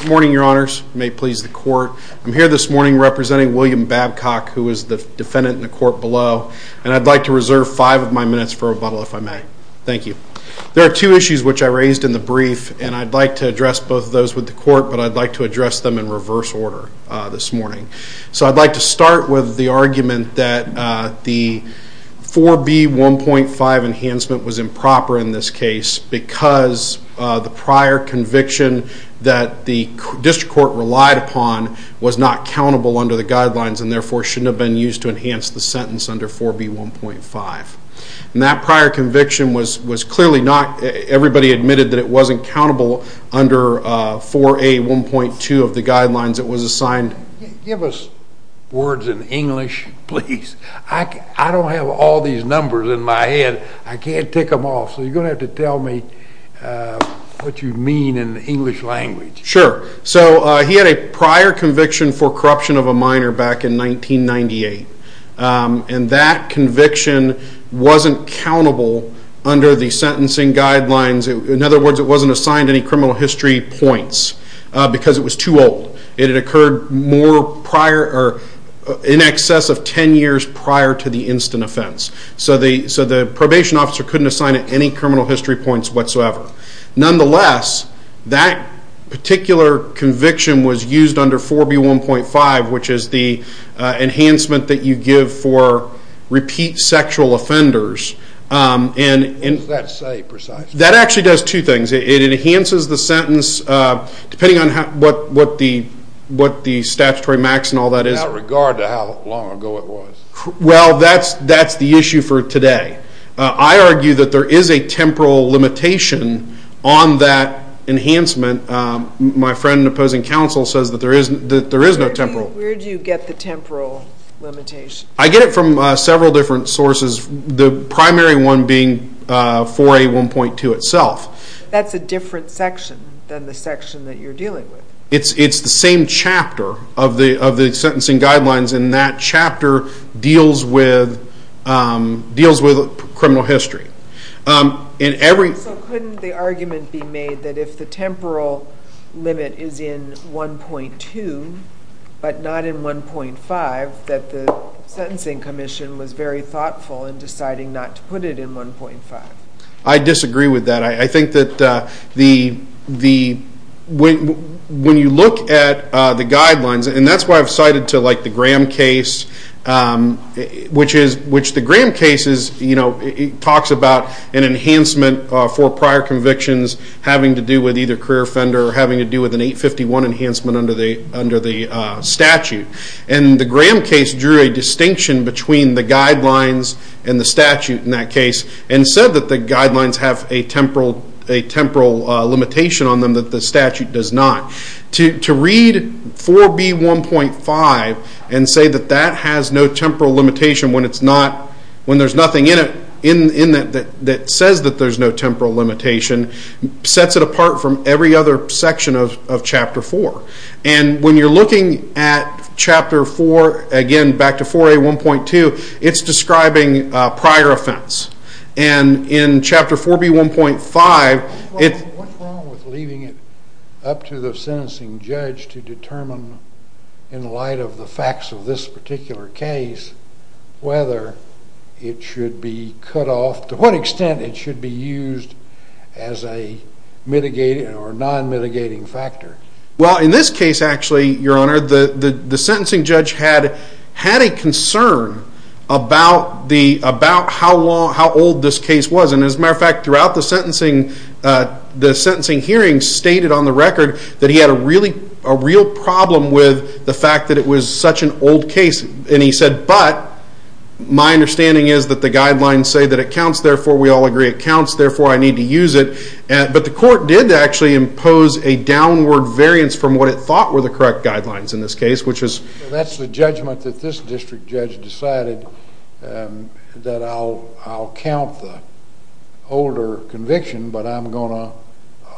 Good morning, your honors. May it please the court. I'm here this morning representing William Babcock, who is the defendant in the court below, and I'd like to reserve five of my minutes for rebuttal, if I may. Thank you. There are two issues which I raised in the brief, and I'd like to address both of those with the court, but I'd like to address them in reverse order this morning. So I'd like to start with the argument that the 4B1.5 enhancement was improper in this case because the prior conviction that the district court relied upon was not countable under the guidelines and therefore shouldn't have been used to enhance the sentence under 4B1.5. And that prior conviction was clearly not, everybody admitted that it wasn't countable under 4A1.2 of the guidelines that was assigned. Give us words in English, please. I don't have all these numbers in my head. I can't tick them off, so you're going to have to tell me what you mean in the English language. Sure. So he had a prior conviction for corruption of a minor back in 1998, and that conviction wasn't countable under the sentencing guidelines. In other words, it wasn't assigned any criminal history points because it was too old. It had occurred in excess of ten years prior to the instant offense. So the probation officer couldn't assign it any criminal history points whatsoever. Nonetheless, that particular conviction was used under 4B1.5, which is the enhancement that you give for repeat sexual offenders. What does that say precisely? That actually does two things. It enhances the sentence, depending on what the statutory max and all that is. Without regard to how long ago it was. Well, that's the issue for today. I argue that there is a temporal limitation on that enhancement. My friend and opposing counsel says that there is no temporal. Where do you get the temporal limitation? I get it from several different sources, the primary one being 4A1.2 itself. That's a different section than the section that you're dealing with. It's the same chapter of the sentencing guidelines, and that chapter deals with criminal history. So couldn't the argument be made that if the temporal limit is in 4A1.2, but not in 4A1.5, that the Sentencing Commission was very thoughtful in deciding not to put it in 4A1.5? I disagree with that. I think that when you look at the guidelines, and that's why I've cited the Graham case, which the Graham case talks about an enhancement for prior convictions having to do with either career offender or having to do with an 851 enhancement under the statute. The Graham case drew a distinction between the guidelines and the statute in that case, and said that the guidelines have a temporal limitation on them that the statute does not. To read 4B1.5 and say that that has no temporal limitation when there's nothing in it that says that there's no temporal limitation sets it apart from every other section of Chapter 4. And when you're looking at Chapter 4, again back to 4A1.2, it's describing prior offense. And in Chapter 4B1.5... What's wrong with leaving it up to the sentencing judge to determine in light of the facts of this particular case whether it should be cut off, to what extent it should be used as a mitigating or non-mitigating factor? Well, in this case actually, Your Honor, the sentencing judge had a concern about how old this case was. And as a matter of fact, throughout the sentencing, the sentencing hearing stated on the record that he had a real problem with the fact that it was such an old case. And he said, but my understanding is that the guidelines say that it counts, therefore we all agree it counts, therefore I need to use it. But the court did actually impose a downward variance from what it thought were the correct guidelines in this case, which is... That's the judgment that this district judge decided that I'll count the older conviction, but I'm going to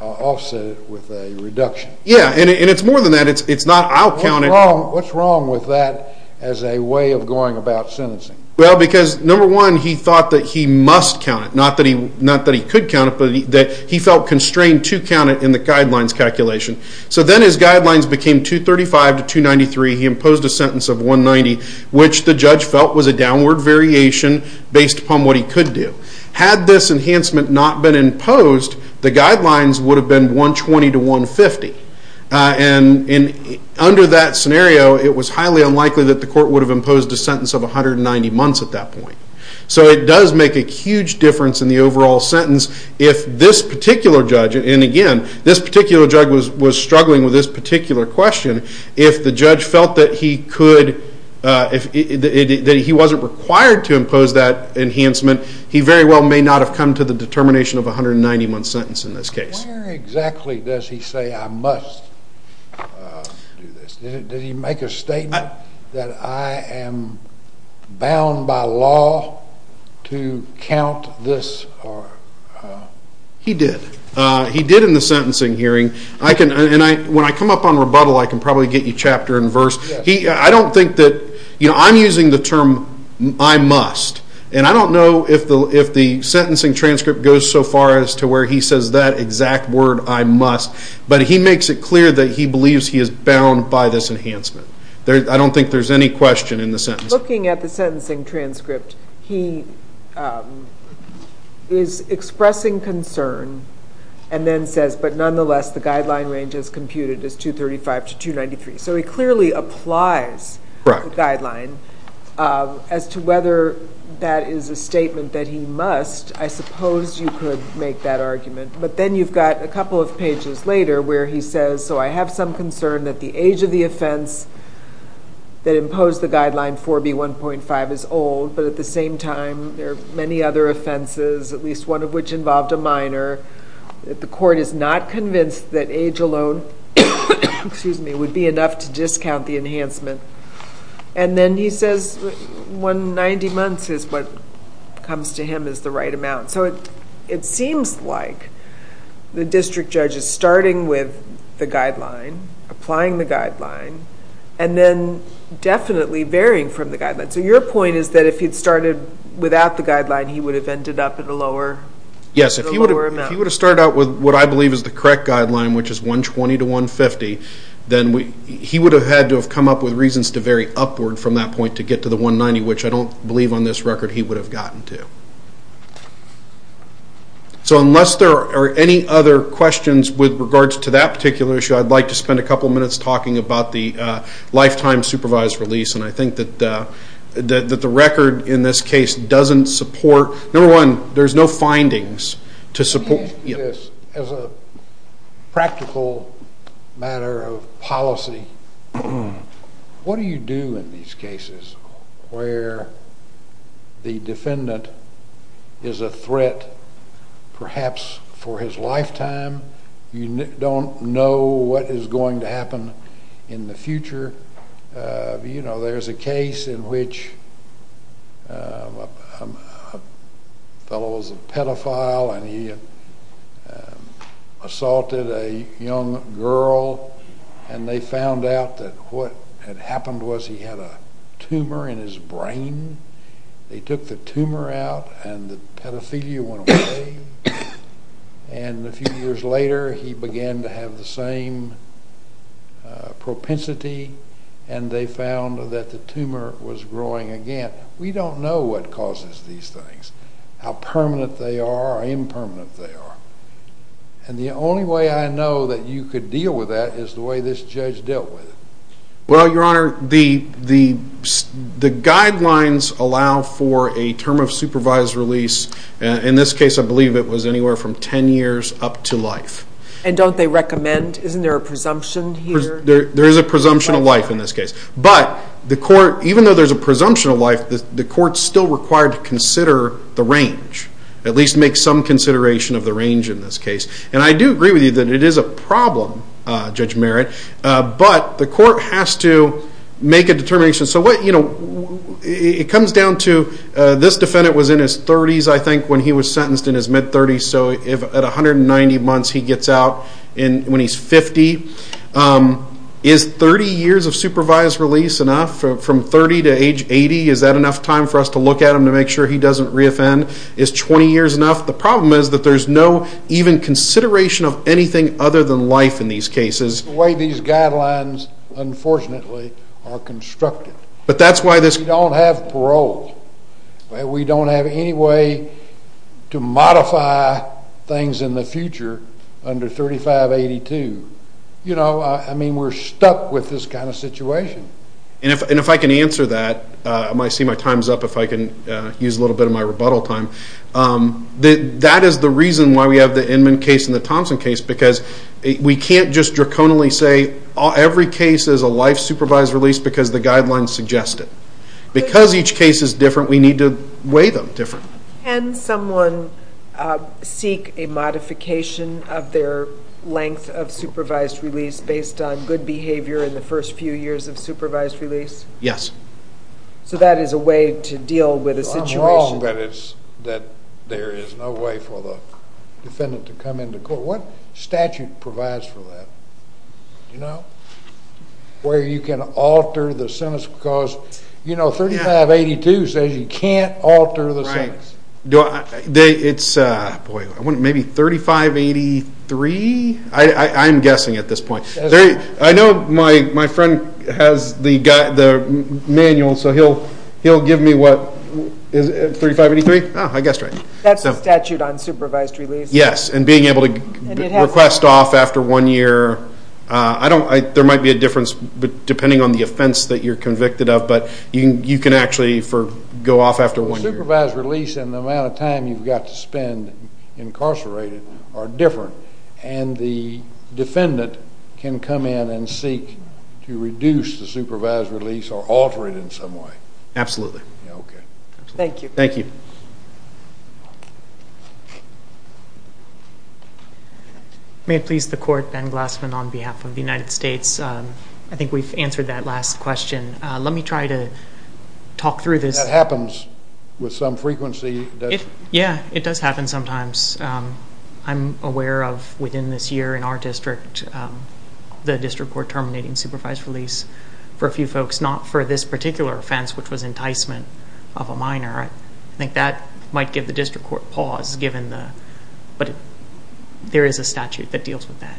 offset it with a reduction. Yeah, and it's more than that. It's not, I'll count it... What's wrong with that as a way of going about sentencing? Well, because number one, he thought that he must count it. Not that he could count it, but that he felt constrained to count it in the guidelines calculation. So then his guidelines became 235 to 293, he imposed a sentence of 190, which the judge felt was a downward variation based upon what he could do. Had this enhancement not been imposed, the guidelines would have been 120 to 150. And under that scenario, it was highly unlikely that the court would have imposed a sentence of 190 months at that point. So it does make a huge difference in the overall sentence if this particular judge, and again, this particular judge was struggling with this particular question, if the judge felt that he wasn't required to impose that enhancement, he very well may not have come to the determination of a 191 sentence in this case. Where exactly does he say, I must do this? Did he make a statement that I am bound by law to count this? He did. He did in the sentencing hearing. When I come up on rebuttal, I can probably get you chapter and verse. I don't think that, you know, I'm using the term, I must, and I don't know if the sentencing transcript goes so far as to where he says that exact word, I must, but he makes it clear that he believes he is bound by this enhancement. I don't think there's any question in the sentence. Looking at the sentencing transcript, he is expressing concern and then says, but nonetheless, the guideline range is computed as 235 to 293. So he clearly applies the guideline. As to whether that is a statement that he must, I suppose you could make that argument, but then you've got a couple of pages later where he says, so I have some concern that the age of the offense that imposed the guideline 4B1.5 is old, but at the same time, there are many other offenses, at least one of which involved a minor. The court is not convinced that age alone would be enough to discount the enhancement. And then he says 90 months is what comes to him as the right amount. So it seems like the district judge is starting with the guideline, applying the guideline, and then definitely varying from the guideline. So your point is that if he'd started without the guideline, he would have ended up at a lower amount. Yes. If he would have started out with what I believe is the correct guideline, which is 120 to 150, then he would have had to have come up with reasons to vary upward from that point to get to the 190, which I don't believe on this record he would have gotten to. So unless there are any other questions with regards to that particular issue, I'd like to spend a couple of minutes talking about the lifetime supervised release. And I think that the record in this case doesn't support, number one, there's no findings to support. As a practical matter of policy, what do you do in these cases where the defendant is a threat perhaps for his lifetime? You don't know what is going to happen in the future. You know, there's a case in which a fellow was a pedophile and he assaulted a young girl, and they found out that what had happened was he had a tumor in his brain. They took the tumor out and the pedophilia went away. And a few years later he began to have the same propensity, and they found that the tumor was growing again. We don't know what causes these things, how permanent they are or impermanent they are. And the only way I know that you could deal with that is the way this judge dealt with it. Well, Your Honor, the guidelines allow for a term of supervised release. In this case, I believe it was anywhere from 10 years up to life. And don't they recommend, isn't there a presumption here? There is a presumption of life in this case. But even though there's a presumption of life, the court is still required to consider the range, at least make some consideration of the range in this case. And I do agree with you that it is a problem, Judge Merritt, but the court has to make a determination. It comes down to, this defendant was in his 30s, I think, when he was sentenced in his mid-30s, so at 190 months he gets out when he's 50. Is 30 years of supervised release enough, from 30 to age 80? Is that enough time for us to look at him to make sure he doesn't re-offend? Is 20 years enough? The problem is that there's no even consideration of anything other than life in these cases. The way these guidelines, unfortunately, are constructed. We don't have parole. We don't have any way to modify things in the future under 3582. You know, I mean, we're stuck with this kind of situation. And if I can answer that, I might see my time's up if I can use a little bit of my rebuttal time. That is the reason why we have the Inman case and the Thompson case, because we can't just draconially say every case is a life supervised release because the guidelines suggest it. Because each case is different, we need to weigh them different. Can someone seek a modification of their length of supervised release based on good behavior in the first few years of supervised release? Yes. So that is a way to deal with a situation. As long as there is no way for the defendant to come into court. What statute provides for that? Do you know? Where you can alter the sentence because, you know, 3582 says you can't alter the sentence. Right. It's, boy, maybe 3583? I'm guessing at this point. I know my friend has the manual, so he'll give me what? 3583? Oh, I guessed right. That's the statute on supervised release. Yes, and being able to request off after one year. There might be a difference depending on the offense that you're convicted of, but you can actually go off after one year. Supervised release and the amount of time you've got to spend incarcerated are different. And the defendant can come in and seek to reduce the supervised release or alter it in some way. Absolutely. Okay. Thank you. Thank you. May it please the Court, Ben Glassman on behalf of the United States. I think we've answered that last question. Let me try to talk through this. That happens with some frequency. Yeah, it does happen sometimes. I'm aware of, within this year in our district, the district court terminating supervised release for a few folks, not for this particular offense, which was enticement of a minor. I think that might give the district court pause, but there is a statute that deals with that.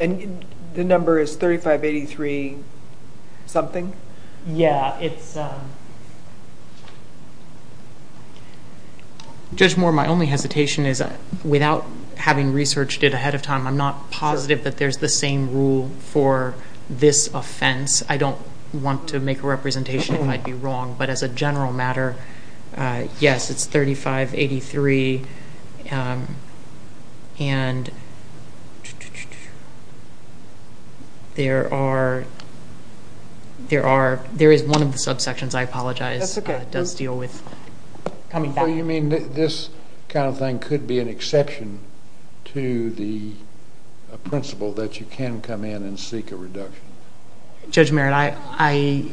And the number is 3583-something? Yeah. It's ‑‑ Judge Moore, my only hesitation is, without having researched it ahead of time, I'm not positive that there's the same rule for this offense. I don't want to make a representation if I'd be wrong. But as a general matter, yes, it's 3583. And there are ‑‑ there is one of the subsections, I apologize, that does deal with coming back. You mean this kind of thing could be an exception to the principle that you can come in and seek a reduction? Judge Merritt, I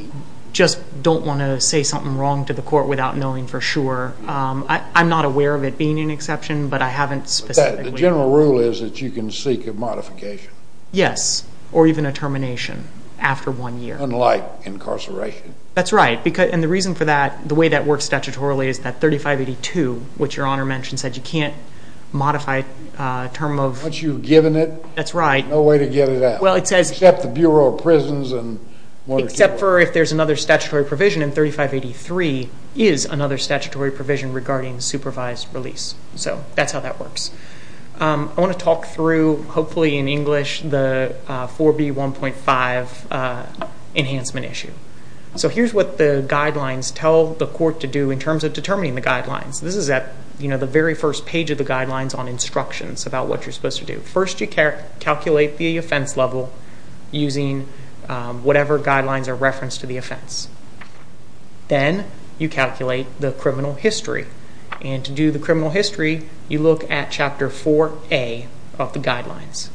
just don't want to say something wrong to the court without knowing for sure. I'm not aware of it being an exception, but I haven't specifically ‑‑ But the general rule is that you can seek a modification. Yes, or even a termination after one year. Unlike incarceration. That's right. And the reason for that, the way that works statutorily, is that 3582, which Your Honor mentioned, said you can't modify a term of ‑‑ But you've given it. That's right. No way to get it out. Well, it says ‑‑ Except the Bureau of Prisons and ‑‑ Except for if there's another statutory provision, and 3583 is another statutory provision regarding supervised release. So that's how that works. I want to talk through, hopefully in English, the 4B1.5 enhancement issue. So here's what the guidelines tell the court to do in terms of determining the guidelines. This is at the very first page of the guidelines on instructions about what you're supposed to do. First you calculate the offense level using whatever guidelines are referenced to the offense. Then you calculate the criminal history. And to do the criminal history, you look at Chapter 4A of the guidelines.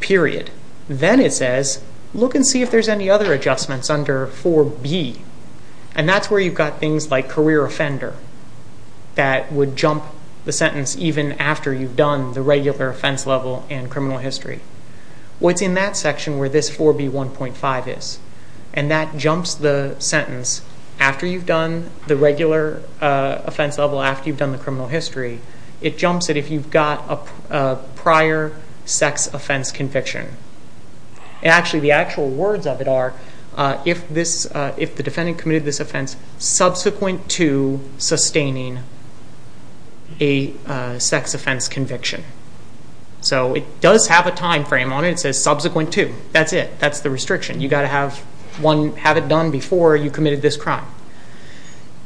Period. Then it says, look and see if there's any other adjustments under 4B. And that's where you've got things like career offender that would jump the sentence even after you've done the regular offense level and criminal history. Well, it's in that section where this 4B1.5 is. And that jumps the sentence after you've done the regular offense level, after you've done the criminal history. It jumps it if you've got a prior sex offense conviction. Actually, the actual words of it are if the defendant committed this offense subsequent to sustaining a sex offense conviction. So it does have a time frame on it. It says subsequent to. That's it. That's the restriction. You've got to have it done before you committed this crime.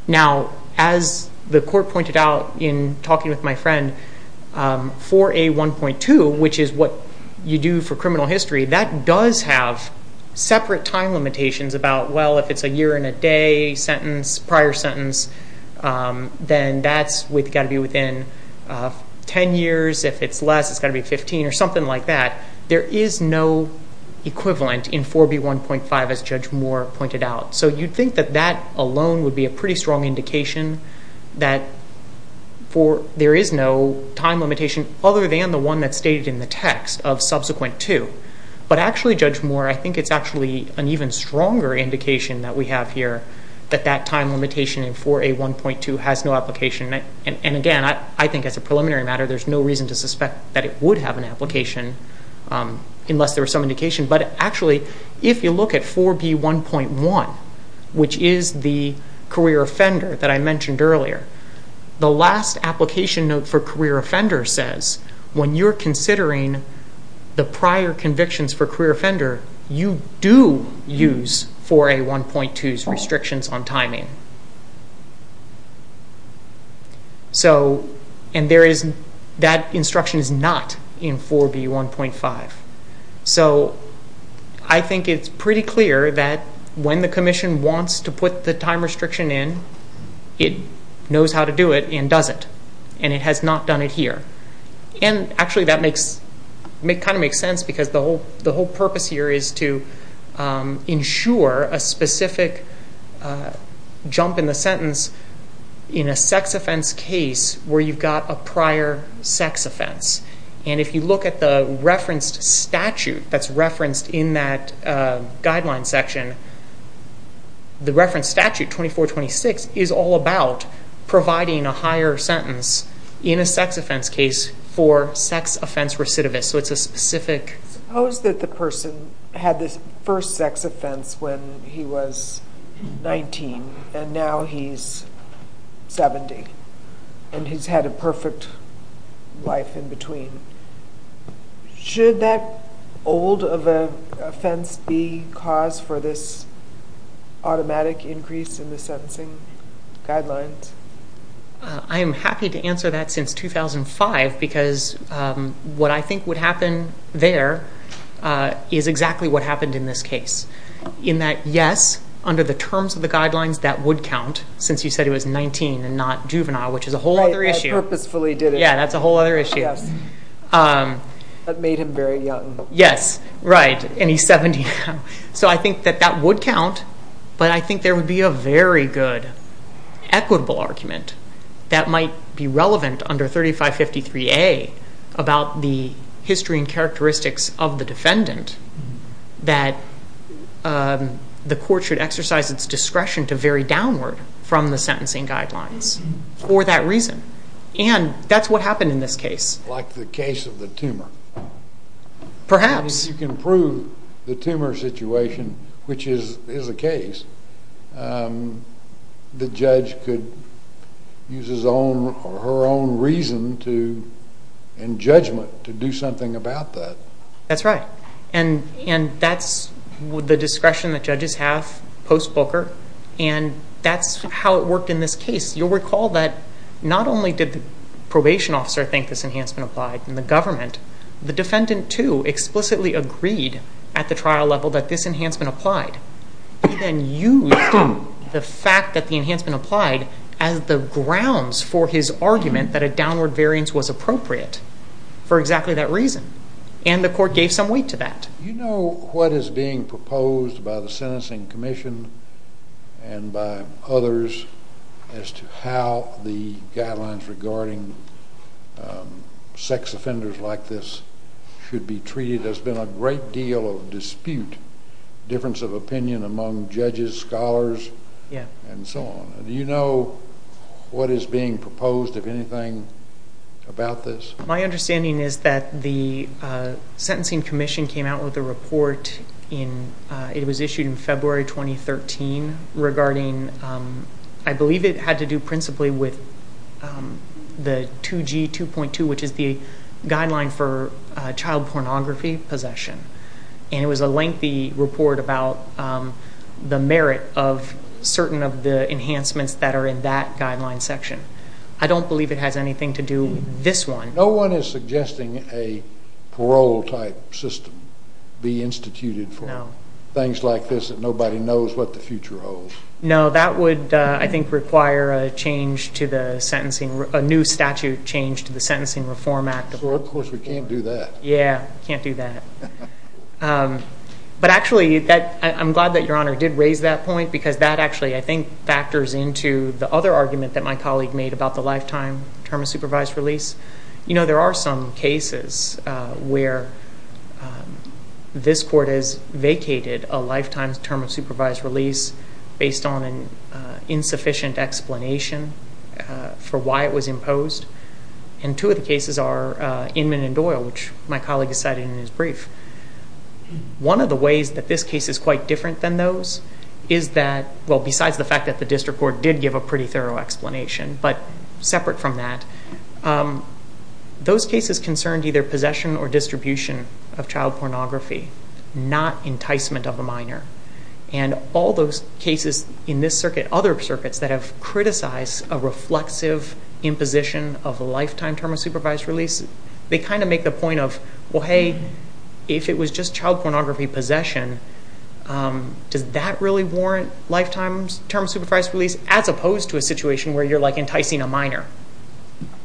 Now, as the court pointed out in talking with my friend, 4A1.2, which is what you do for criminal history, that does have separate time limitations about, well, if it's a year and a day prior sentence, then that's got to be within 10 years. If it's less, it's got to be 15 or something like that. There is no equivalent in 4B1.5 as Judge Moore pointed out. So you'd think that that alone would be a pretty strong indication that there is no time limitation other than the one that's stated in the text of subsequent to. But actually, Judge Moore, I think it's actually an even stronger indication that we have here that that time limitation in 4A1.2 has no application. And again, I think as a preliminary matter, there's no reason to suspect that it would have an application unless there was some indication. But actually, if you look at 4B1.1, which is the career offender that I mentioned earlier, the last application note for career offender says, when you're considering the prior convictions for career offender, you do use 4A1.2's restrictions on timing. And that instruction is not in 4B1.5. So I think it's pretty clear that when the commission wants to put the time restriction in, it knows how to do it and does it. And it has not done it here. And actually, that kind of makes sense because the whole purpose here is to ensure a specific jump in the sentence in a sex offense case where you've got a prior sex offense. And if you look at the referenced statute that's referenced in that guideline section, the referenced statute, 2426, is all about providing a higher sentence in a sex offense case for sex offense recidivist. So it's a specific... Suppose that the person had this first sex offense when he was 19 and now he's 70 and he's had a perfect life in between. Should that old offense be cause for this automatic increase in the sentencing guidelines? I am happy to answer that since 2005 because what I think would happen there is exactly what happened in this case. In that, yes, under the terms of the guidelines, that would count since you said he was 19 and not juvenile, which is a whole other issue. I purposefully did it. Yeah, that's a whole other issue. That made him very young. Yes, right, and he's 70 now. So I think that that would count, but I think there would be a very good equitable argument that might be relevant under 3553A about the history and characteristics of the defendant that the court should exercise its discretion to vary downward from the sentencing guidelines for that reason. And that's what happened in this case. Like the case of the tumor. Perhaps. You can prove the tumor situation, which is the case. The judge could use her own reason and judgment to do something about that. That's right. And that's the discretion that judges have post-Booker, and that's how it worked in this case. You'll recall that not only did the probation officer think this enhancement applied in the government, the defendant, too, explicitly agreed at the trial level that this enhancement applied. He then used the fact that the enhancement applied as the grounds for his argument that a downward variance was appropriate for exactly that reason, and the court gave some weight to that. Do you know what is being proposed by the Sentencing Commission and by others as to how the guidelines regarding sex offenders like this should be treated? There's been a great deal of dispute, difference of opinion among judges, scholars, and so on. Do you know what is being proposed, if anything, about this? My understanding is that the Sentencing Commission came out with a report. It was issued in February 2013 regarding, I believe it had to do principally with the 2G 2.2, which is the guideline for child pornography possession, and it was a lengthy report about the merit of certain of the enhancements that are in that guideline section. I don't believe it has anything to do with this one. No one is suggesting a parole-type system be instituted for things like this that nobody knows what the future holds? No, that would, I think, require a new statute change to the Sentencing Reform Act. Of course, we can't do that. Yeah, can't do that. But actually, I'm glad that Your Honor did raise that point because that actually, I think, factors into the other argument that my colleague made about the lifetime term of supervised release. You know, there are some cases where this court has vacated a lifetime term of supervised release based on an insufficient explanation for why it was imposed, and two of the cases are Inman and Doyle, which my colleague cited in his brief. One of the ways that this case is quite different than those is that, well, besides the fact that the district court did give a pretty thorough explanation, but separate from that, those cases concerned either possession or distribution of child pornography, not enticement of a minor, and all those cases in this circuit, other circuits, that have criticized a reflexive imposition of a lifetime term of supervised release, they kind of make the point of, well, hey, if it was just child pornography possession, does that really warrant lifetime term of supervised release as opposed to a situation where you're, like, enticing a minor?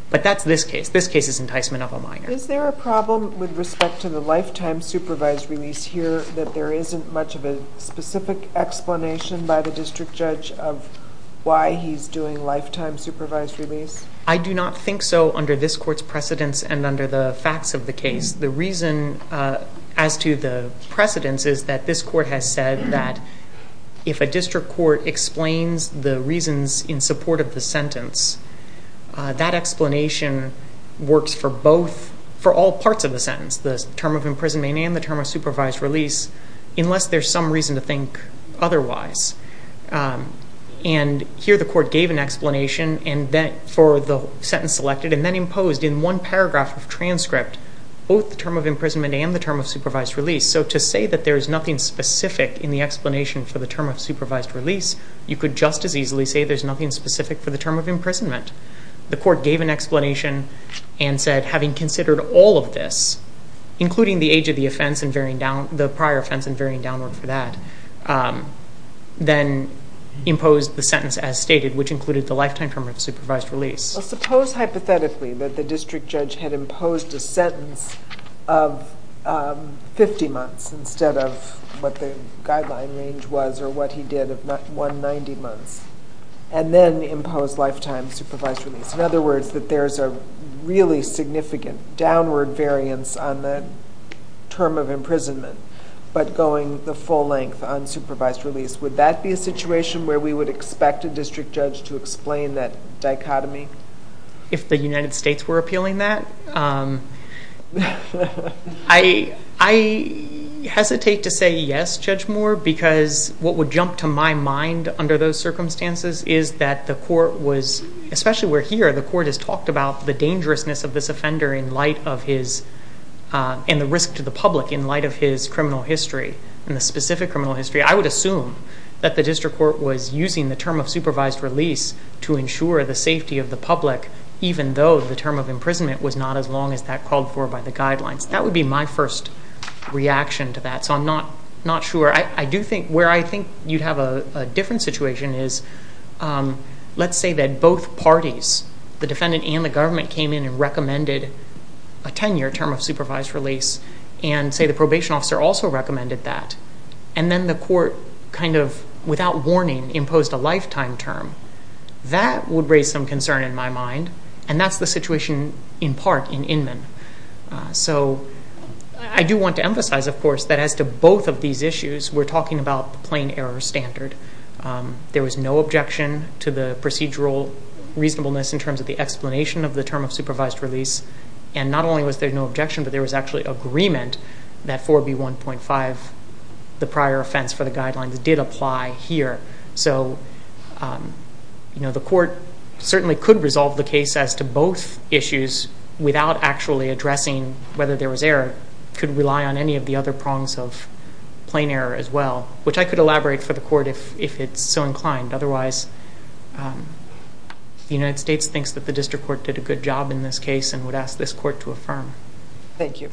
But that's this case. This case is enticement of a minor. Is there a problem with respect to the lifetime supervised release here that there isn't much of a specific explanation by the district judge of why he's doing lifetime supervised release? I do not think so under this court's precedence and under the facts of the case. The reason as to the precedence is that this court has said that if a district court explains the reasons in support of the sentence, that explanation works for both, for all parts of the sentence, the term of imprisonment and the term of supervised release, unless there's some reason to think otherwise. And here the court gave an explanation for the sentence selected and then imposed in one paragraph of transcript both the term of imprisonment and the term of supervised release. So to say that there is nothing specific in the explanation for the term of supervised release, you could just as easily say there's nothing specific for the term of imprisonment. The court gave an explanation and said, having considered all of this, including the age of the offense and varying down, the prior offense and varying downward for that, then imposed the sentence as stated, which included the lifetime term of supervised release. Suppose hypothetically that the district judge had imposed a sentence of 50 months instead of what the guideline range was or what he did of 190 months and then imposed lifetime supervised release. In other words, that there's a really significant downward variance on the term of imprisonment but going the full length on supervised release. Would that be a situation where we would expect a district judge to explain that dichotomy? If the United States were appealing that? I hesitate to say yes, Judge Moore, because what would jump to my mind under those circumstances is that the court was, especially where here the court has talked about the dangerousness of this offender in light of his, and the risk to the public in light of his criminal history and the specific criminal history. I would assume that the district court was using the term of supervised release to ensure the safety of the public, even though the term of imprisonment was not as long as that called for by the guidelines. That would be my first reaction to that, so I'm not sure. Where I think you'd have a different situation is, let's say that both parties, the defendant and the government, came in and recommended a 10-year term of supervised release and say the probation officer also recommended that and then the court kind of, without warning, imposed a lifetime term. That would raise some concern in my mind, and that's the situation in part in Inman. So I do want to emphasize, of course, that as to both of these issues, we're talking about the plain error standard. There was no objection to the procedural reasonableness in terms of the explanation of the term of supervised release, and not only was there no objection, but there was actually agreement that 4B1.5, the prior offense for the guidelines, did apply here. So the court certainly could resolve the case as to both issues without actually addressing whether there was error. It could rely on any of the other prongs of plain error as well, which I could elaborate for the court if it's so inclined. Otherwise, the United States thinks that the district court did a good job in this case and would ask this court to affirm. Thank you.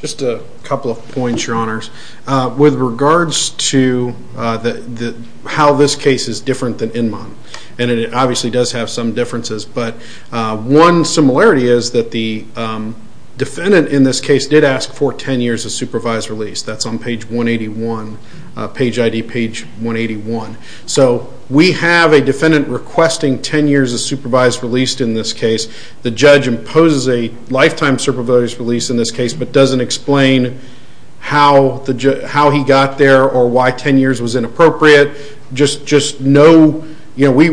Just a couple of points, Your Honors. With regards to how this case is different than Inman, and it obviously does have some differences, but one similarity is that the defendant in this case did ask for 10 years of supervised release. That's on page 181, page ID page 181. So we have a defendant requesting 10 years of supervised release in this case. The judge imposes a lifetime supervised release in this case, but doesn't explain how he got there or why 10 years was inappropriate. We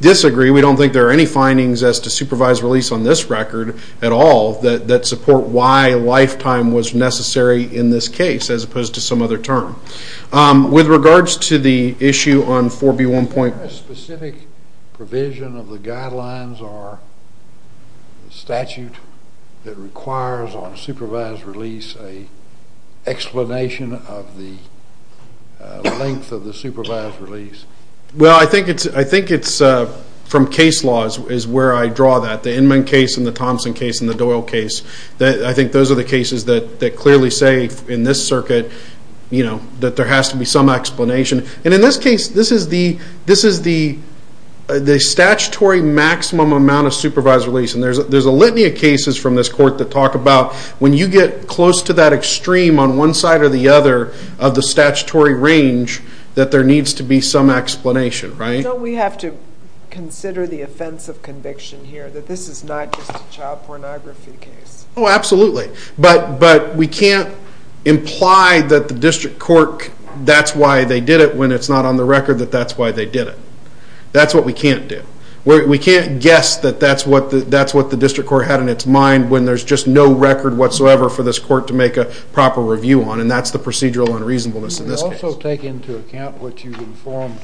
disagree. We don't think there are any findings as to supervised release on this record at all that support why a lifetime was necessary in this case, as opposed to some other term. With regards to the issue on 4B1.1 Is there a specific provision of the guidelines or statute that requires on supervised release an explanation of the length of the supervised release? Well, I think it's from case laws is where I draw that. The Inman case and the Thompson case and the Doyle case, I think those are the cases that clearly say in this circuit that there has to be some explanation. In this case, this is the statutory maximum amount of supervised release, and there's a litany of cases from this court that talk about when you get close to that extreme on one side or the other of the statutory range, that there needs to be some explanation. We have to consider the offense of conviction here, that this is not just a child pornography case. Oh, absolutely. But we can't imply that the district court, that's why they did it when it's not on the record that that's why they did it. That's what we can't do. We can't guess that that's what the district court had in its mind when there's just no record whatsoever for this court to make a proper review on, and that's the procedural unreasonableness in this case. Can you also take into account what you've informed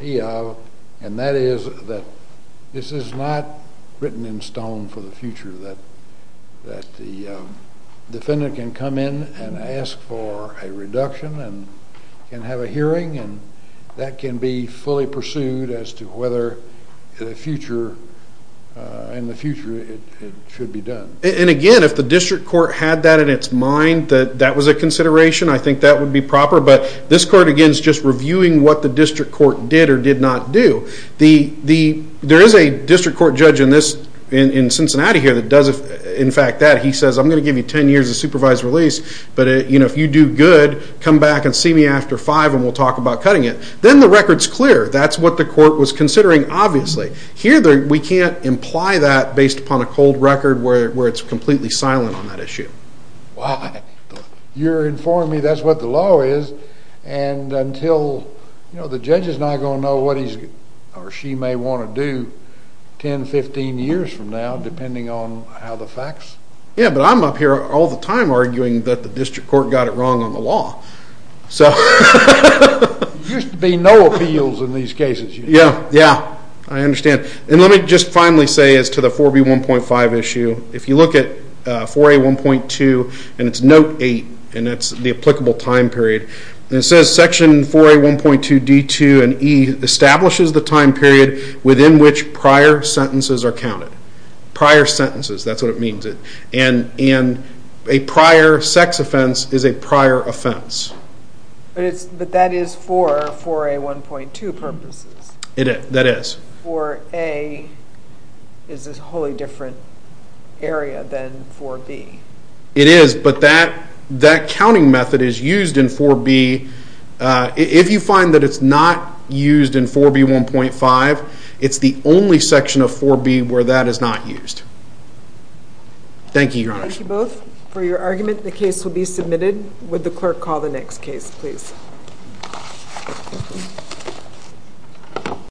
me of, and that is that this is not written in stone for the future, that the defendant can come in and ask for a reduction and can have a hearing, and that can be fully pursued as to whether in the future it should be done. And, again, if the district court had that in its mind that that was a consideration, I think that would be proper, but this court, again, is just reviewing what the district court did or did not do. There is a district court judge in Cincinnati here that does, in fact, that. He says, I'm going to give you ten years of supervised release, but if you do good, come back and see me after five and we'll talk about cutting it. Then the record's clear. That's what the court was considering, obviously. Here we can't imply that based upon a cold record where it's completely silent on that issue. Why? You're informing me that's what the law is, and until the judge is not going to know what he or she may want to do 10, 15 years from now, depending on how the facts. Yeah, but I'm up here all the time arguing that the district court got it wrong on the law. So there used to be no appeals in these cases. Yeah, yeah, I understand. And let me just finally say as to the 4B1.5 issue, if you look at 4A1.2, and it's Note 8, and that's the applicable time period, and it says Section 4A1.2 D2 and E establishes the time period within which prior sentences are counted. Prior sentences, that's what it means. And a prior sex offense is a prior offense. But that is for 4A1.2 purposes. That is. 4A is a wholly different area than 4B. It is, but that counting method is used in 4B. If you find that it's not used in 4B1.5, it's the only section of 4B where that is not used. Thank you, Your Honor. Thank you both for your argument. The case will be submitted. Would the clerk call the next case, please?